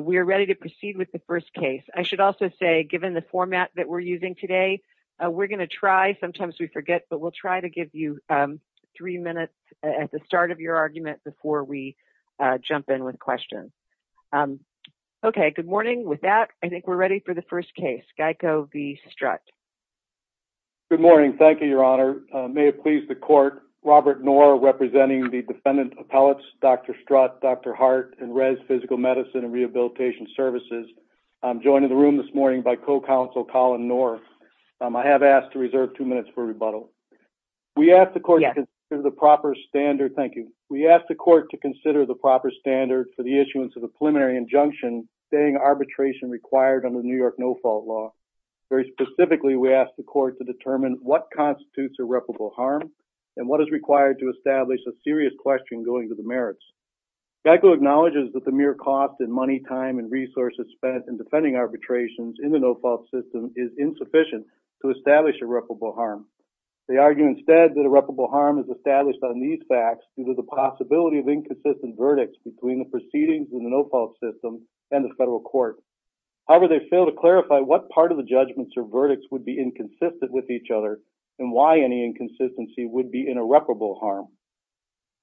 We are ready to proceed with the first case. I should also say, given the format that we're using today, we're going to try, sometimes we forget, but we'll try to give you three minutes at the start of your argument before we jump in with questions. Okay, good morning. With that, I think we're ready for the first case. GEICO v. Strut. Good morning. Thank you, Your Honor. May it please the Court, Robert Knorr representing the defendant appellates Dr. Strut, Dr. Hart, and Rez Physical Medicine and Rehabilitation Services. I'm joined in the room this morning by co-counsel Colin Knorr. I have asked to reserve two minutes for rebuttal. We ask the Court to consider the proper standard for the issuance of a preliminary injunction stating arbitration required under the New York No-Fault Law. Very specifically, we ask the Court to determine what constitutes irreparable harm and what is required to establish a serious question going to the merits. GEICO acknowledges that the mere cost in money, time, and resources spent in defending arbitrations in the no-fault system is insufficient to establish irreparable harm. They argue instead that irreparable harm is established on these facts due to the possibility of inconsistent verdicts between the proceedings in the no-fault system and the federal court. However, they fail to clarify what part of the judgments or verdicts would be inconsistent with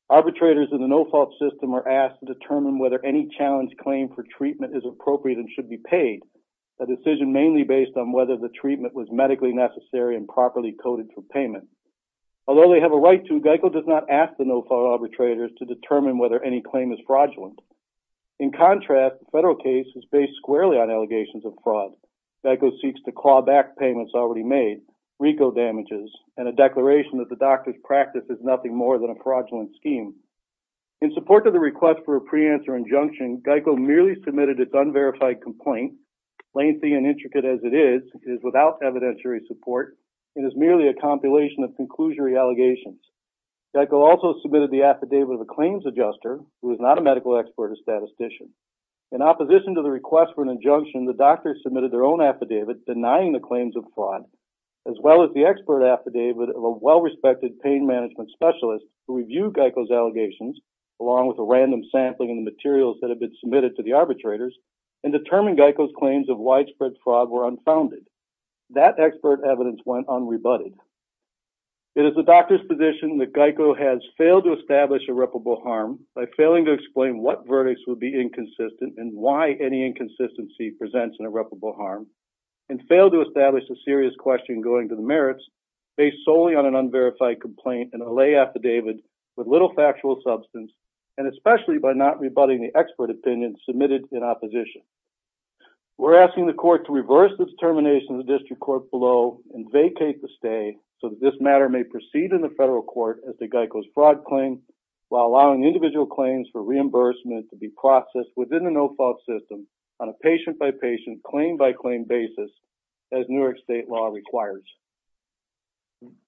Arbitrators in the no-fault system are asked to determine whether any challenged claim for treatment is appropriate and should be paid, a decision mainly based on whether the treatment was medically necessary and properly coded for payment. Although they have a right to, GEICO does not ask the no-fault arbitrators to determine whether any claim is fraudulent. In contrast, the federal case is based squarely on allegations of fraud. GEICO seeks to claw back payments already made, RICO damages, and a declaration that the doctor's practice is more than a fraudulent scheme. In support of the request for a pre-answer injunction, GEICO merely submitted its unverified complaint. Lengthy and intricate as it is, it is without evidentiary support. It is merely a compilation of conclusionary allegations. GEICO also submitted the affidavit of a claims adjuster who is not a medical expert or statistician. In opposition to the request for an injunction, the doctor submitted their own affidavit denying the claims of fraud, as well as the expert affidavit of a well-respected pain management specialist who reviewed GEICO's allegations, along with a random sampling of the materials that had been submitted to the arbitrators, and determined GEICO's claims of widespread fraud were unfounded. That expert evidence went unrebutted. It is the doctor's position that GEICO has failed to establish irreparable harm by failing to explain what verdicts would be question going to the merits based solely on an unverified complaint and a lay affidavit with little factual substance, and especially by not rebutting the expert opinion submitted in opposition. We're asking the court to reverse this termination of the district court below and vacate the stay so that this matter may proceed in the federal court as the GEICO's fraud claim while allowing individual claims for reimbursement to be processed within the system on a patient-by-patient, claim-by-claim basis as Newark state law requires.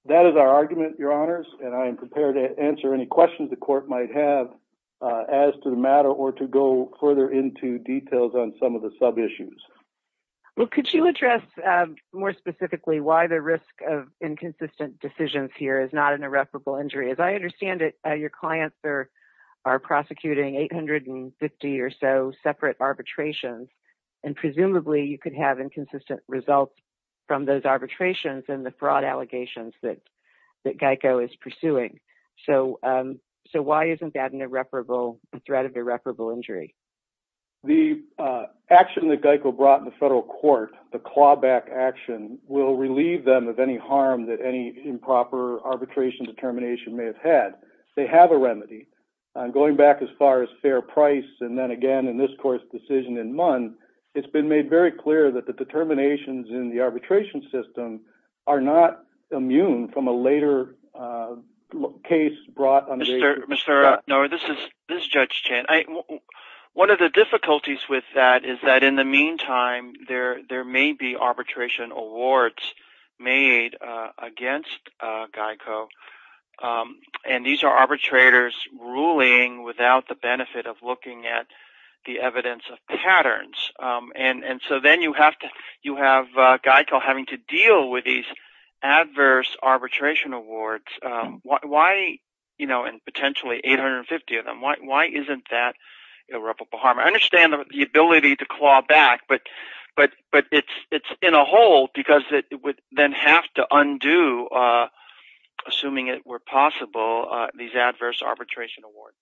That is our argument, your honors, and I am prepared to answer any questions the court might have as to the matter or to go further into details on some of the sub-issues. Well, could you address more specifically why the risk of inconsistent decisions here is not irreparable injury? As I understand it, your clients are prosecuting 850 or so separate arbitrations, and presumably you could have inconsistent results from those arbitrations and the fraud allegations that GEICO is pursuing. So why isn't that a threat of irreparable injury? The action that GEICO brought in the federal court, the clawback action, will relieve them of any harm that any improper arbitration determination may have had. They have a remedy. Going back as far as fair price, and then again in this court's decision in Munn, it's been made very clear that the determinations in the arbitration system are not immune from a later case brought under... Mr. Norah, this is Judge Chan. One of the difficulties with that is that in the meantime, there may be arbitration awards made against GEICO, and these are arbitrators ruling without the benefit of looking at the evidence of patterns. And so then you have GEICO having to deal with these irreparable harm. I understand the ability to claw back, but it's in a hole because it would then have to undo, assuming it were possible, these adverse arbitration awards.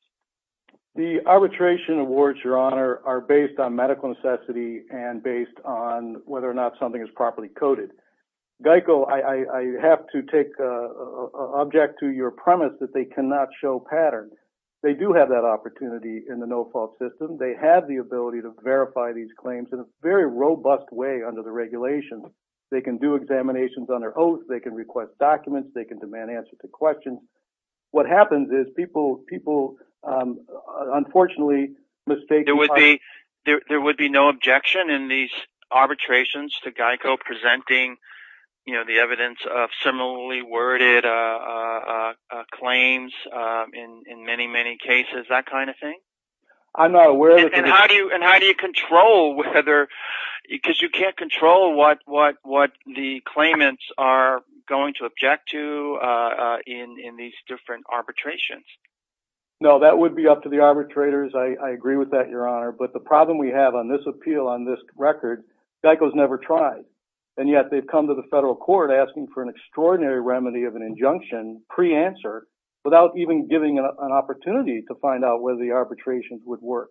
The arbitration awards, Your Honor, are based on medical necessity and based on whether or not something is properly coded. GEICO, I have to take object to your premise that they cannot show patterns. They do have that opportunity in the no-fault system. They have the ability to verify these claims in a very robust way under the regulations. They can do examinations under oath. They can request documents. They can demand answers to questions. What happens is people unfortunately mistake... There would be no objection in these arbitrations to GEICO presenting the evidence of similarly worded claims in many, many cases, that kind of thing. I'm not aware... And how do you control whether... Because you can't control what the claimants are going to object to in these different arbitrations. No, that would be up to the arbitrators. I agree with that, Your Honor. But the problem we have this appeal on this record, GEICO's never tried. And yet they've come to the federal court asking for an extraordinary remedy of an injunction pre-answer without even giving an opportunity to find out whether the arbitrations would work.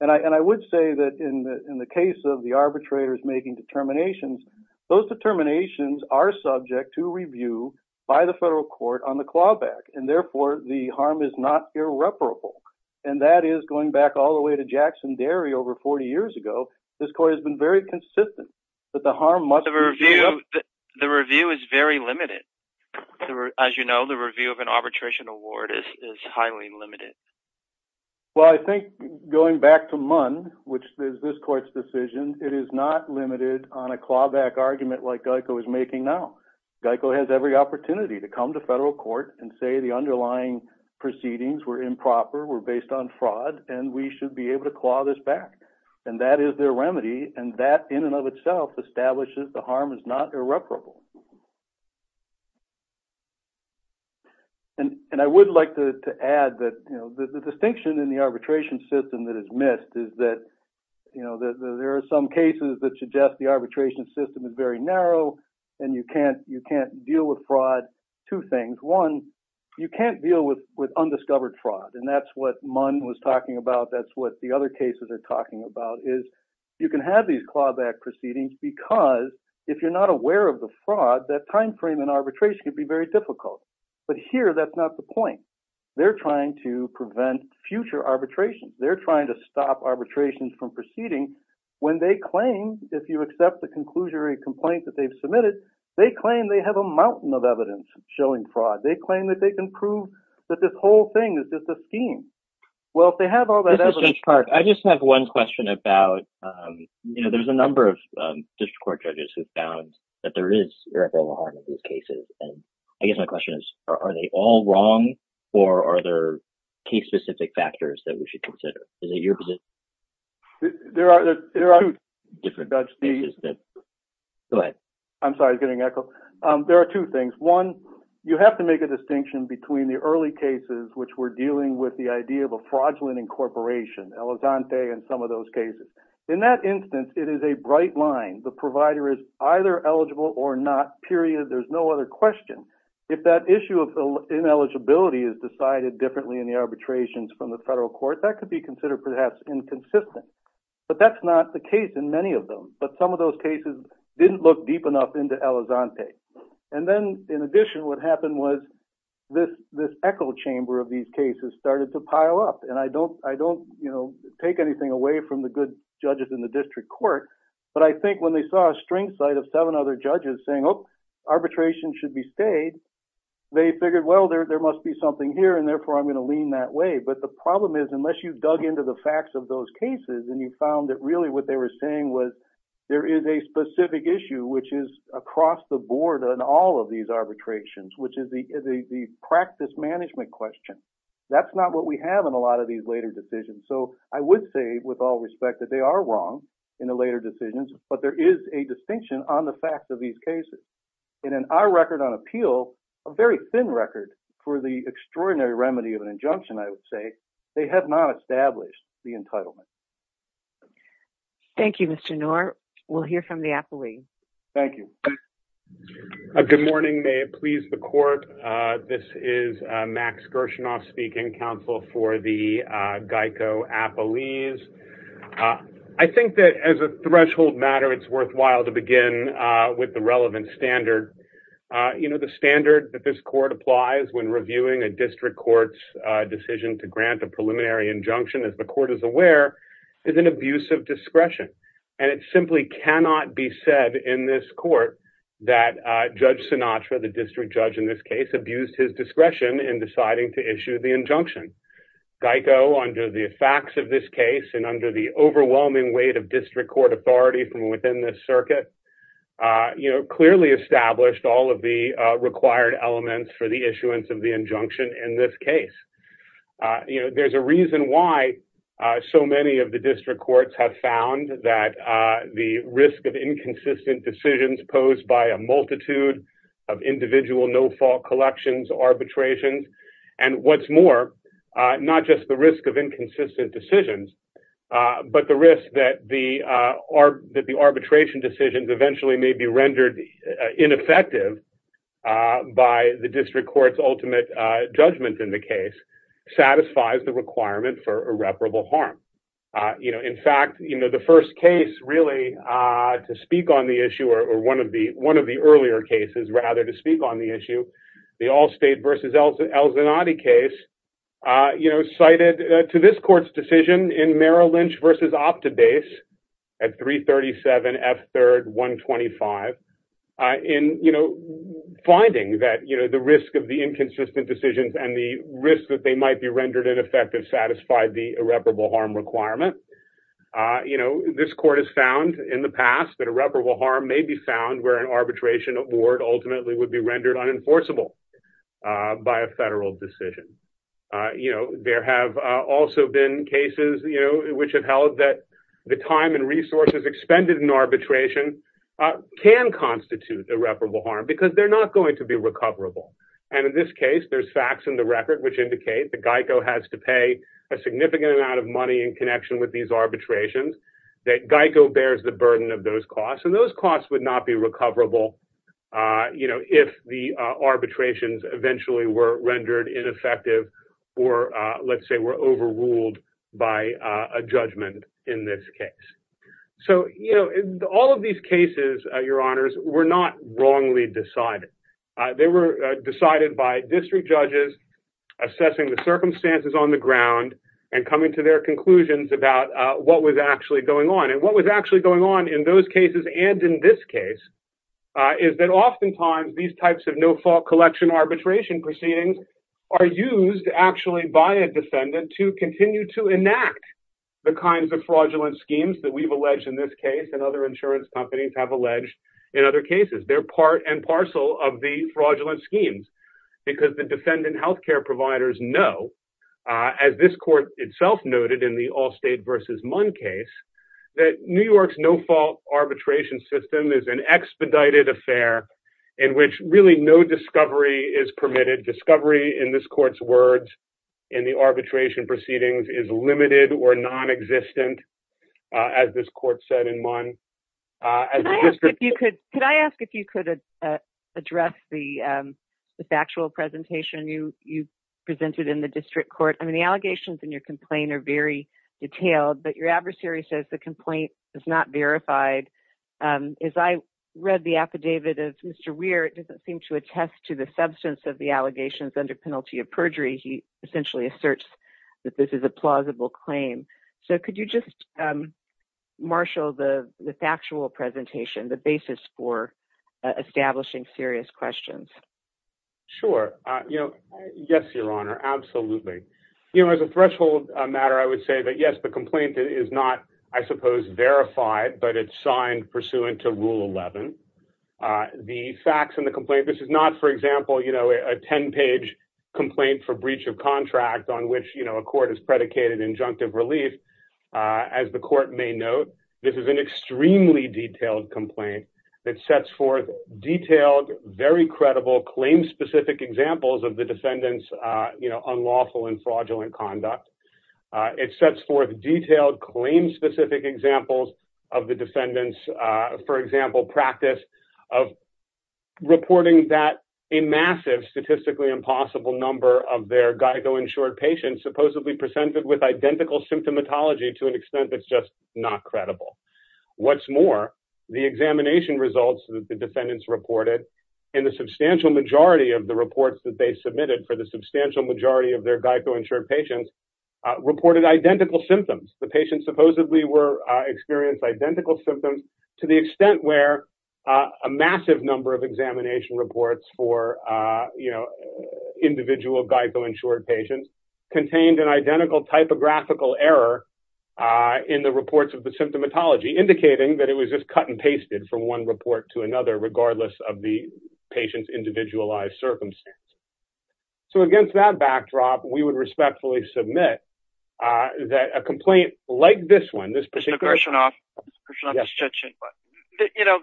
And I would say that in the case of the arbitrators making determinations, those determinations are subject to review by the federal court on the clawback. And therefore, the harm is not irreparable. And that is going back all the way to Jackson Dairy over 40 years ago. This court has been very consistent that the harm must be... The review is very limited. As you know, the review of an arbitration award is highly limited. Well, I think going back to MUN, which is this court's decision, it is not limited on a clawback argument like GEICO is making now. GEICO has every opportunity to come to federal court and say the claw this back. And that is their remedy. And that in and of itself establishes the harm is not irreparable. And I would like to add that the distinction in the arbitration system that is missed is that there are some cases that suggest the arbitration system is very narrow and you can't deal with fraud. Two things. One, you can't deal with undiscovered fraud. And that's what cases are talking about, is you can have these clawback proceedings because if you're not aware of the fraud, that timeframe in arbitration can be very difficult. But here, that's not the point. They're trying to prevent future arbitrations. They're trying to stop arbitrations from proceeding when they claim, if you accept the conclusion or a complaint that they've submitted, they claim they have a mountain of evidence showing fraud. They claim that they can prove that this whole thing is just a scheme. Well, if they have all that evidence... I just have one question about, there's a number of district court judges who found that there is irreparable harm in these cases. And I guess my question is, are they all wrong or are there case-specific factors that we should consider? Is it your position? There are two. I'm sorry, I was getting echoed. There are two things. One, you have to make a distinction between the early cases, which were dealing with the idea of a fraudulent incorporation, Elizonte and some of those cases. In that instance, it is a bright line. The provider is either eligible or not, period. There's no other question. If that issue of ineligibility is decided differently in the arbitrations from the federal court, that could be considered perhaps inconsistent. But that's not the case in many of them. But some of those cases didn't look deep enough into Elizonte. And then in addition, what happened was this echo chamber of these cases started to pile up. And I don't take anything away from the good judges in the district court, but I think when they saw a string site of seven other judges saying, oh, arbitration should be stayed, they figured, well, there must be something here, and therefore I'm going to lean that way. But the problem is, unless you dug into the facts of those cases and you found that really what they were saying was there is a specific issue, which is across the board on all of these arbitrations, which is the practice management question. That's not what we have in a lot of these later decisions. So I would say, with all respect, that they are wrong in the later decisions, but there is a distinction on the fact of these cases. And in our record on appeal, a very thin record for the extraordinary remedy of injunction, I would say they have not established the entitlement. Thank you, Mr. Knorr. We'll hear from the appellee. Thank you. Good morning. May it please the court. This is Max Gershinoff speaking, counsel for the GEICO appellees. I think that as a threshold matter, it's worthwhile to begin with the relevant standard. The standard that this court applies when reviewing a district court's decision to grant a preliminary injunction, as the court is aware, is an abuse of discretion. And it simply cannot be said in this court that Judge Sinatra, the district judge in this case, abused his discretion in deciding to issue the injunction. GEICO, under the facts of this case and under the overwhelming weight of district court authority from within this circuit, clearly established all of the required elements for the issuance of the injunction in this case. There's a reason why so many of the district courts have found that the risk of inconsistent decisions posed by a multitude of individual no-fault collections, arbitrations, and what's more, not just the risk of inconsistent decisions, but the risk that the arbitration decisions eventually may be rendered ineffective by the district court's ultimate judgment in the case. Satisfies the requirement for irreparable harm. In fact, the first case really to speak on the issue, or one of the earlier cases, rather, to speak on the issue, the Allstate v. El Zanotti case, cited to this court's decision in Merrill Lynch v. Optibase at 337 F. 3rd, 125, in finding that the risk of the inconsistent decisions and the risk that they might be rendered ineffective satisfied the irreparable harm requirement. This court has found in the past that irreparable harm may be found where an arbitration award ultimately would be rendered unenforceable by a federal decision. There have also been cases which have held that the time and resources expended in arbitration can constitute irreparable harm because they're not going to be recoverable. In this case, there's facts in the record which indicate that GEICO has to pay a significant amount of money in connection with these arbitrations, that GEICO bears the burden of those costs, and those costs would not be recoverable if the arbitrations eventually were All of these cases, Your Honors, were not wrongly decided. They were decided by district judges assessing the circumstances on the ground and coming to their conclusions about what was actually going on. And what was actually going on in those cases and in this case is that oftentimes these types of no-fault collection arbitration proceedings are used actually by a defendant to continue to enact the kinds of fraudulent schemes that we've and other insurance companies have alleged in other cases. They're part and parcel of the fraudulent schemes because the defendant health care providers know, as this court itself noted in the Allstate v. Munn case, that New York's no-fault arbitration system is an expedited affair in which really no discovery is permitted. Discovery, in this court's words, in the arbitration proceedings is limited or non-existent, as this court said in Munn. Could I ask if you could address the factual presentation you presented in the district court? I mean, the allegations in your complaint are very detailed, but your adversary says the complaint is not verified. As I read the affidavit as Mr. Weir, it doesn't seem to essentially assert that this is a plausible claim. So could you just marshal the factual presentation, the basis for establishing serious questions? Sure. Yes, Your Honor, absolutely. As a threshold matter, I would say that yes, the complaint is not, I suppose, verified, but it's signed pursuant to Rule 11. The facts in the complaint, this is not, for example, a 10-page complaint for breach of contract on which a court has predicated injunctive relief. As the court may note, this is an extremely detailed complaint that sets forth detailed, very credible, claim-specific examples of the defendant's unlawful and fraudulent conduct. It sets forth claim-specific examples of the defendant's, for example, practice of reporting that a massive, statistically impossible number of their Geico-insured patients supposedly presented with identical symptomatology to an extent that's just not credible. What's more, the examination results that the defendants reported in the substantial majority of the reports that they submitted for the substantial majority of their Geico-insured patients reported identical symptoms. The patients supposedly experienced identical symptoms to the extent where a massive number of examination reports for individual Geico-insured patients contained an identical typographical error in the reports of the symptomatology, indicating that it was just cut and pasted from one report to another, regardless of the uh, that a complaint like this one, this particular, you know,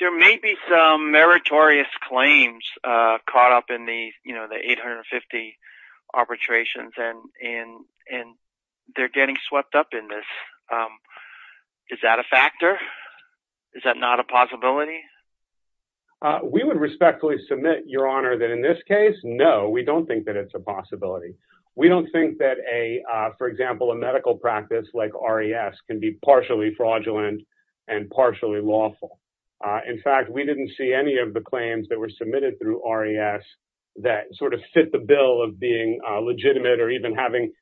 there may be some meritorious claims, uh, caught up in the, you know, the 850 arbitrations and, and, and they're getting swept up in this. Um, is that a factor? Is that not a possibility? Uh, we would respectfully submit your honor that in this case, no, we don't think that it's a possibility. We don't think that for example, a medical practice like RES can be partially fraudulent and partially lawful. In fact, we didn't see any of the claims that were submitted through RES that sort of fit the bill of being legitimate or even having,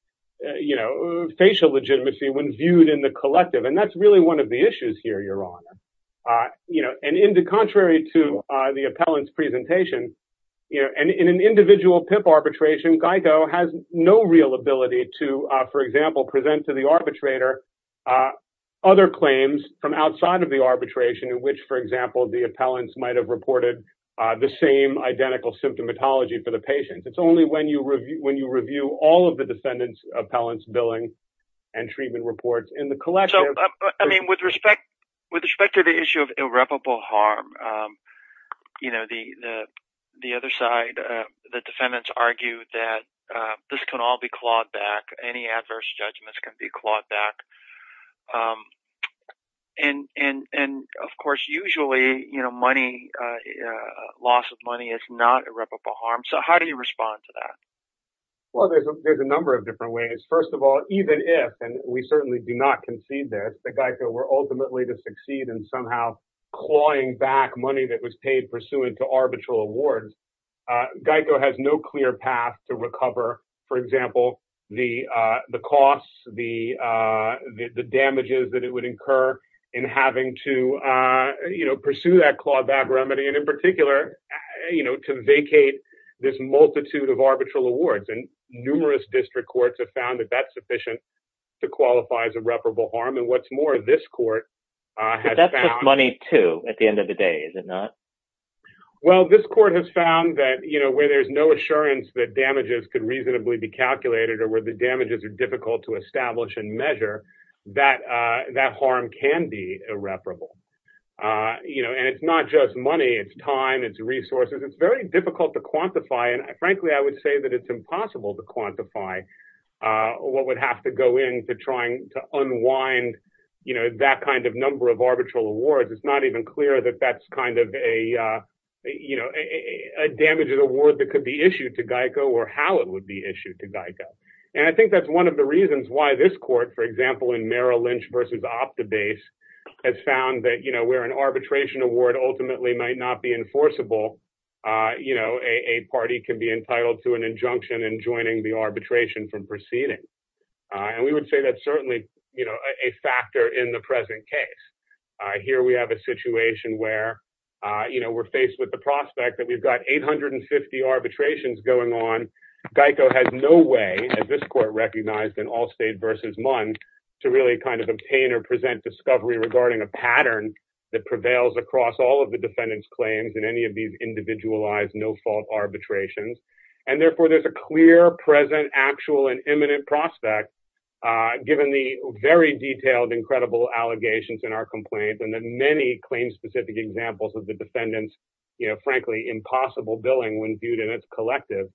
you know, facial legitimacy when viewed in the collective. And that's really one of the issues here, your honor, uh, you know, and in the contrary to the appellant's presentation, you know, and in an individual PIP arbitration, Geico has no real ability to, uh, for example, present to the arbitrator, uh, other claims from outside of the arbitration in which, for example, the appellants might've reported, uh, the same identical symptomatology for the patient. It's only when you review, when you review all of the defendant's appellant's billing and treatment reports in the collective. I mean, with respect, with respect to the issue of irreparable harm, um, you know, the, the, the other side, uh, the defendants argue that, uh, this can all be clawed back. Any adverse judgments can be clawed back. Um, and, and, and of course, usually, you know, money, uh, uh, loss of money is not irreparable harm. So how do you respond to that? Well, there's a, there's a number of different ways. First of all, even if, and we certainly do not concede this, that Geico were ultimately to uh, Geico has no clear path to recover. For example, the, uh, the costs, the, uh, the, the damages that it would incur in having to, uh, you know, pursue that clawback remedy. And in particular, you know, to vacate this multitude of arbitral awards and numerous district courts have found that that's sufficient to qualify as irreparable harm. And what's more, this court, uh, money too, at the end of the day, is it not? Well, this court has found that, you know, where there's no assurance that damages could reasonably be calculated or where the damages are difficult to establish and measure that, uh, that harm can be irreparable. Uh, you know, and it's not just money, it's time, it's resources. It's very difficult to quantify. And frankly, I would say that it's impossible to quantify, uh, what would have to go into trying to unwind, you know, that kind of number of arbitral awards. It's not even clear that that's kind of a, uh, you know, a damages award that could be issued to Geico or how it would be issued to Geico. And I think that's one of the reasons why this court, for example, in Merrill Lynch versus Optibase has found that, you know, where an arbitration award ultimately might not be enforceable, uh, you know, a, a party can be entitled to an injunction and joining the arbitration from proceeding. Uh, and we would say that certainly, you know, a factor in the case. Uh, here we have a situation where, uh, you know, we're faced with the prospect that we've got 850 arbitrations going on. Geico has no way, as this court recognized in Allstate versus MUN, to really kind of obtain or present discovery regarding a pattern that prevails across all of the defendant's claims in any of these individualized, no fault arbitrations. And therefore there's a clear present actual and imminent prospect, uh, given the very detailed, incredible allegations in our complaint and the many claims specific examples of the defendant's, you know, frankly, impossible billing when viewed in its collective,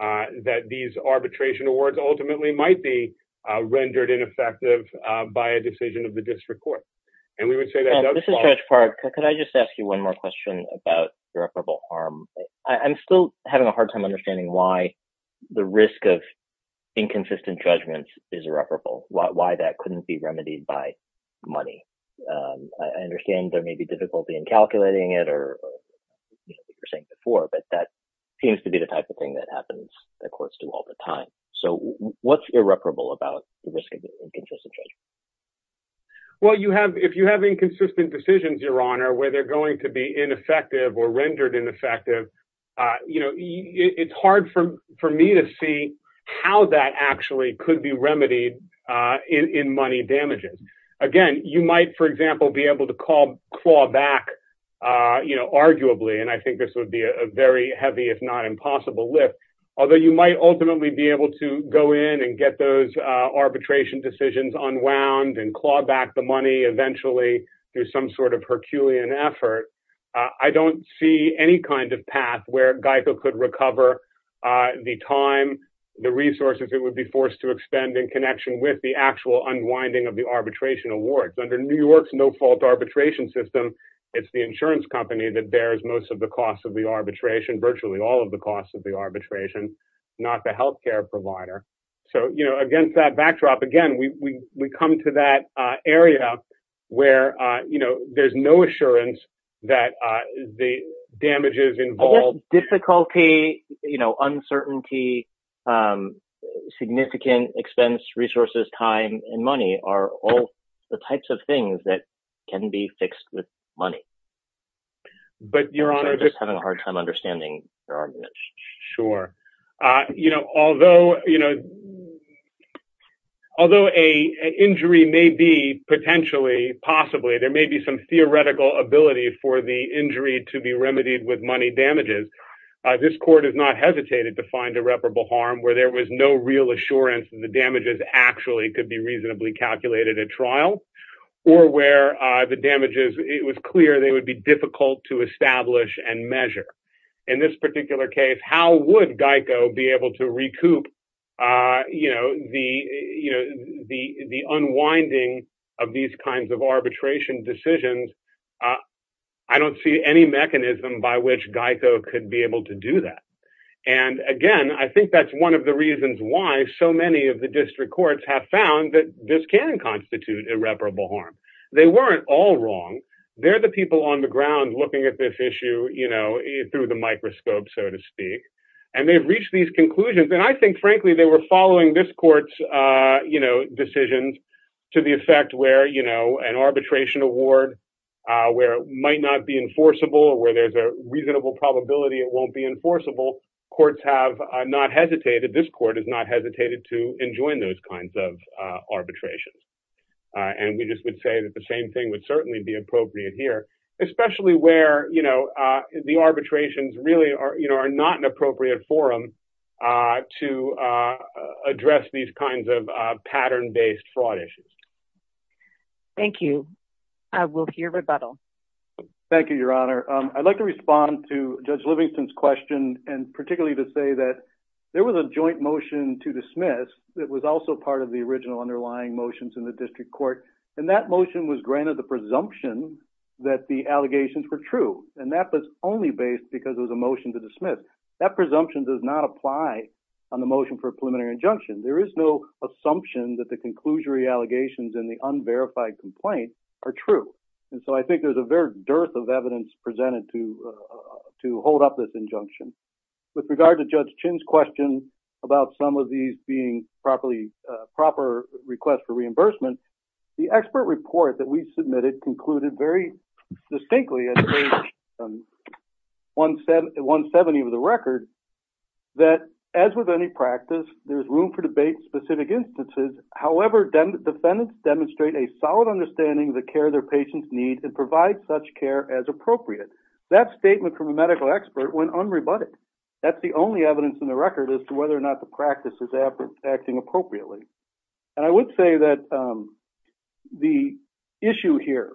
uh, that these arbitration awards ultimately might be, uh, rendered ineffective, uh, by a decision of the district court. And we would say that- This is Judge Park. Could I just ask you one more question about irreparable harm? I'm still having a hard time understanding why the risk of inconsistent judgments is irreparable, why that couldn't be remedied by money. Um, I understand there may be difficulty in calculating it or, you know, what you were saying before, but that seems to be the type of thing that happens, that courts do all the time. So what's irreparable about the risk of inconsistent judgment? Well, you have- If you have inconsistent decisions, Your Honor, where they're going to be ineffective or rendered ineffective, uh, you know, it's hard for- for me to see how that actually could be remedied, uh, in- in money damages. Again, you might, for example, be able to call- claw back, uh, you know, arguably, and I think this would be a very heavy, if not impossible, lift. Although you might ultimately be able to go in and get those, uh, arbitration decisions unwound and claw back the money eventually through some sort of Herculean effort, uh, I don't see any kind of path where GEICO could recover, uh, the time, the resources it would be forced to expend in connection with the actual unwinding of the arbitration award. Under New York's no-fault arbitration system, it's the insurance company that bears most of the costs of the arbitration, virtually all of the costs of the arbitration, not the healthcare provider. So, you know, against that backdrop, again, we- we- we come to that, uh, area where, uh, you know, there's no assurance that, uh, the damages involved- Difficulty, you know, uncertainty, um, significant expense, resources, time, and money are all the types of things that can be fixed with money. But your honor- I'm just having a hard time understanding your argument. Sure. Uh, you know, although, you know, although a- an injury may be potentially, possibly, there may be some theoretical ability for the injury to be remedied with money damages, uh, this court has not hesitated to find irreparable harm where there was no real assurance that the damages actually could be reasonably calculated at trial or where, uh, the damages, it was clear they would be difficult to establish and measure. In this particular case, how would GEICO be able to recoup, uh, you know, the- you know, the- the unwinding of these kinds of arbitration decisions? Uh, I don't see any mechanism by which GEICO could be able to do that. And again, I think that's one of the reasons why so many of the district courts have found that this can constitute irreparable harm. They weren't all wrong. They're the people on the ground looking at this issue, you know, through the microscope, so to speak, and they've reached these conclusions. And I think, frankly, they were following this court's, uh, you know, decisions to the effect where, you know, an arbitration award, uh, where it might not be enforceable or where there's a reasonable probability it won't be enforceable, courts have, uh, not hesitated. This court has not hesitated to enjoin those kinds of, uh, arbitrations. Uh, and we just would say that the same thing would certainly be appropriate here, especially where, you know, uh, the arbitrations really are, you know, are not an appropriate forum, uh, to, uh, address these kinds of, uh, pattern-based fraud issues. Thank you. Uh, we'll hear rebuttal. Thank you, Your Honor. Um, I'd like to respond to Judge Livingston's question and particularly to say that there was a joint motion to dismiss that was also part of the original underlying motions in the district court. And that motion was granted the presumption that the allegations were true. And that was only based because it was a motion to dismiss. That presumption does not apply on the motion for a preliminary injunction. There is no assumption that the conclusionary allegations in the unverified complaint are true. And so I think there's a very dearth of evidence presented to, uh, to hold up this injunction. With regard to reimbursement, the expert report that we submitted concluded very distinctly at page, um, 170 of the record that, as with any practice, there's room for debate in specific instances. However, defendants demonstrate a solid understanding of the care their patients need and provide such care as appropriate. That statement from a medical expert went unrebutted. That's the only evidence in the record as to whether or not the practice is acting appropriately. And I would say that, um, the issue here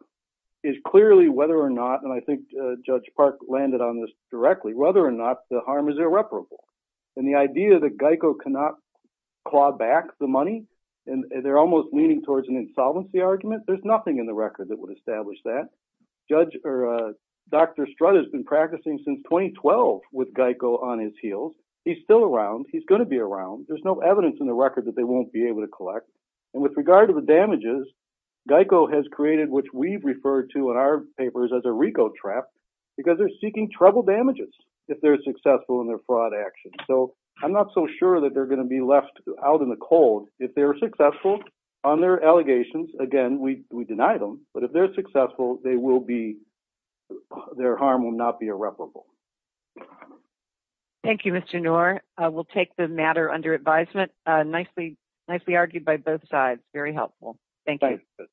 is clearly whether or not, and I think Judge Park landed on this directly, whether or not the harm is irreparable. And the idea that GEICO cannot claw back the money, and they're almost leaning towards an insolvency argument, there's nothing in the record that would establish that. Judge, or, uh, Dr. Strutt has been practicing since 2012 with GEICO on his heels. He's still around. He's going to be around. There's no evidence in record that they won't be able to collect. And with regard to the damages, GEICO has created, which we've referred to in our papers as a RICO trap, because they're seeking trouble damages if they're successful in their fraud action. So I'm not so sure that they're going to be left out in the cold. If they're successful on their allegations, again, we, we deny them, but if they're successful, they will be, their harm will not be irreparable. Thank you, Mr. Knorr. We'll take the matter under advisement. Uh, nicely, nicely argued by both sides. Very helpful. Thank you.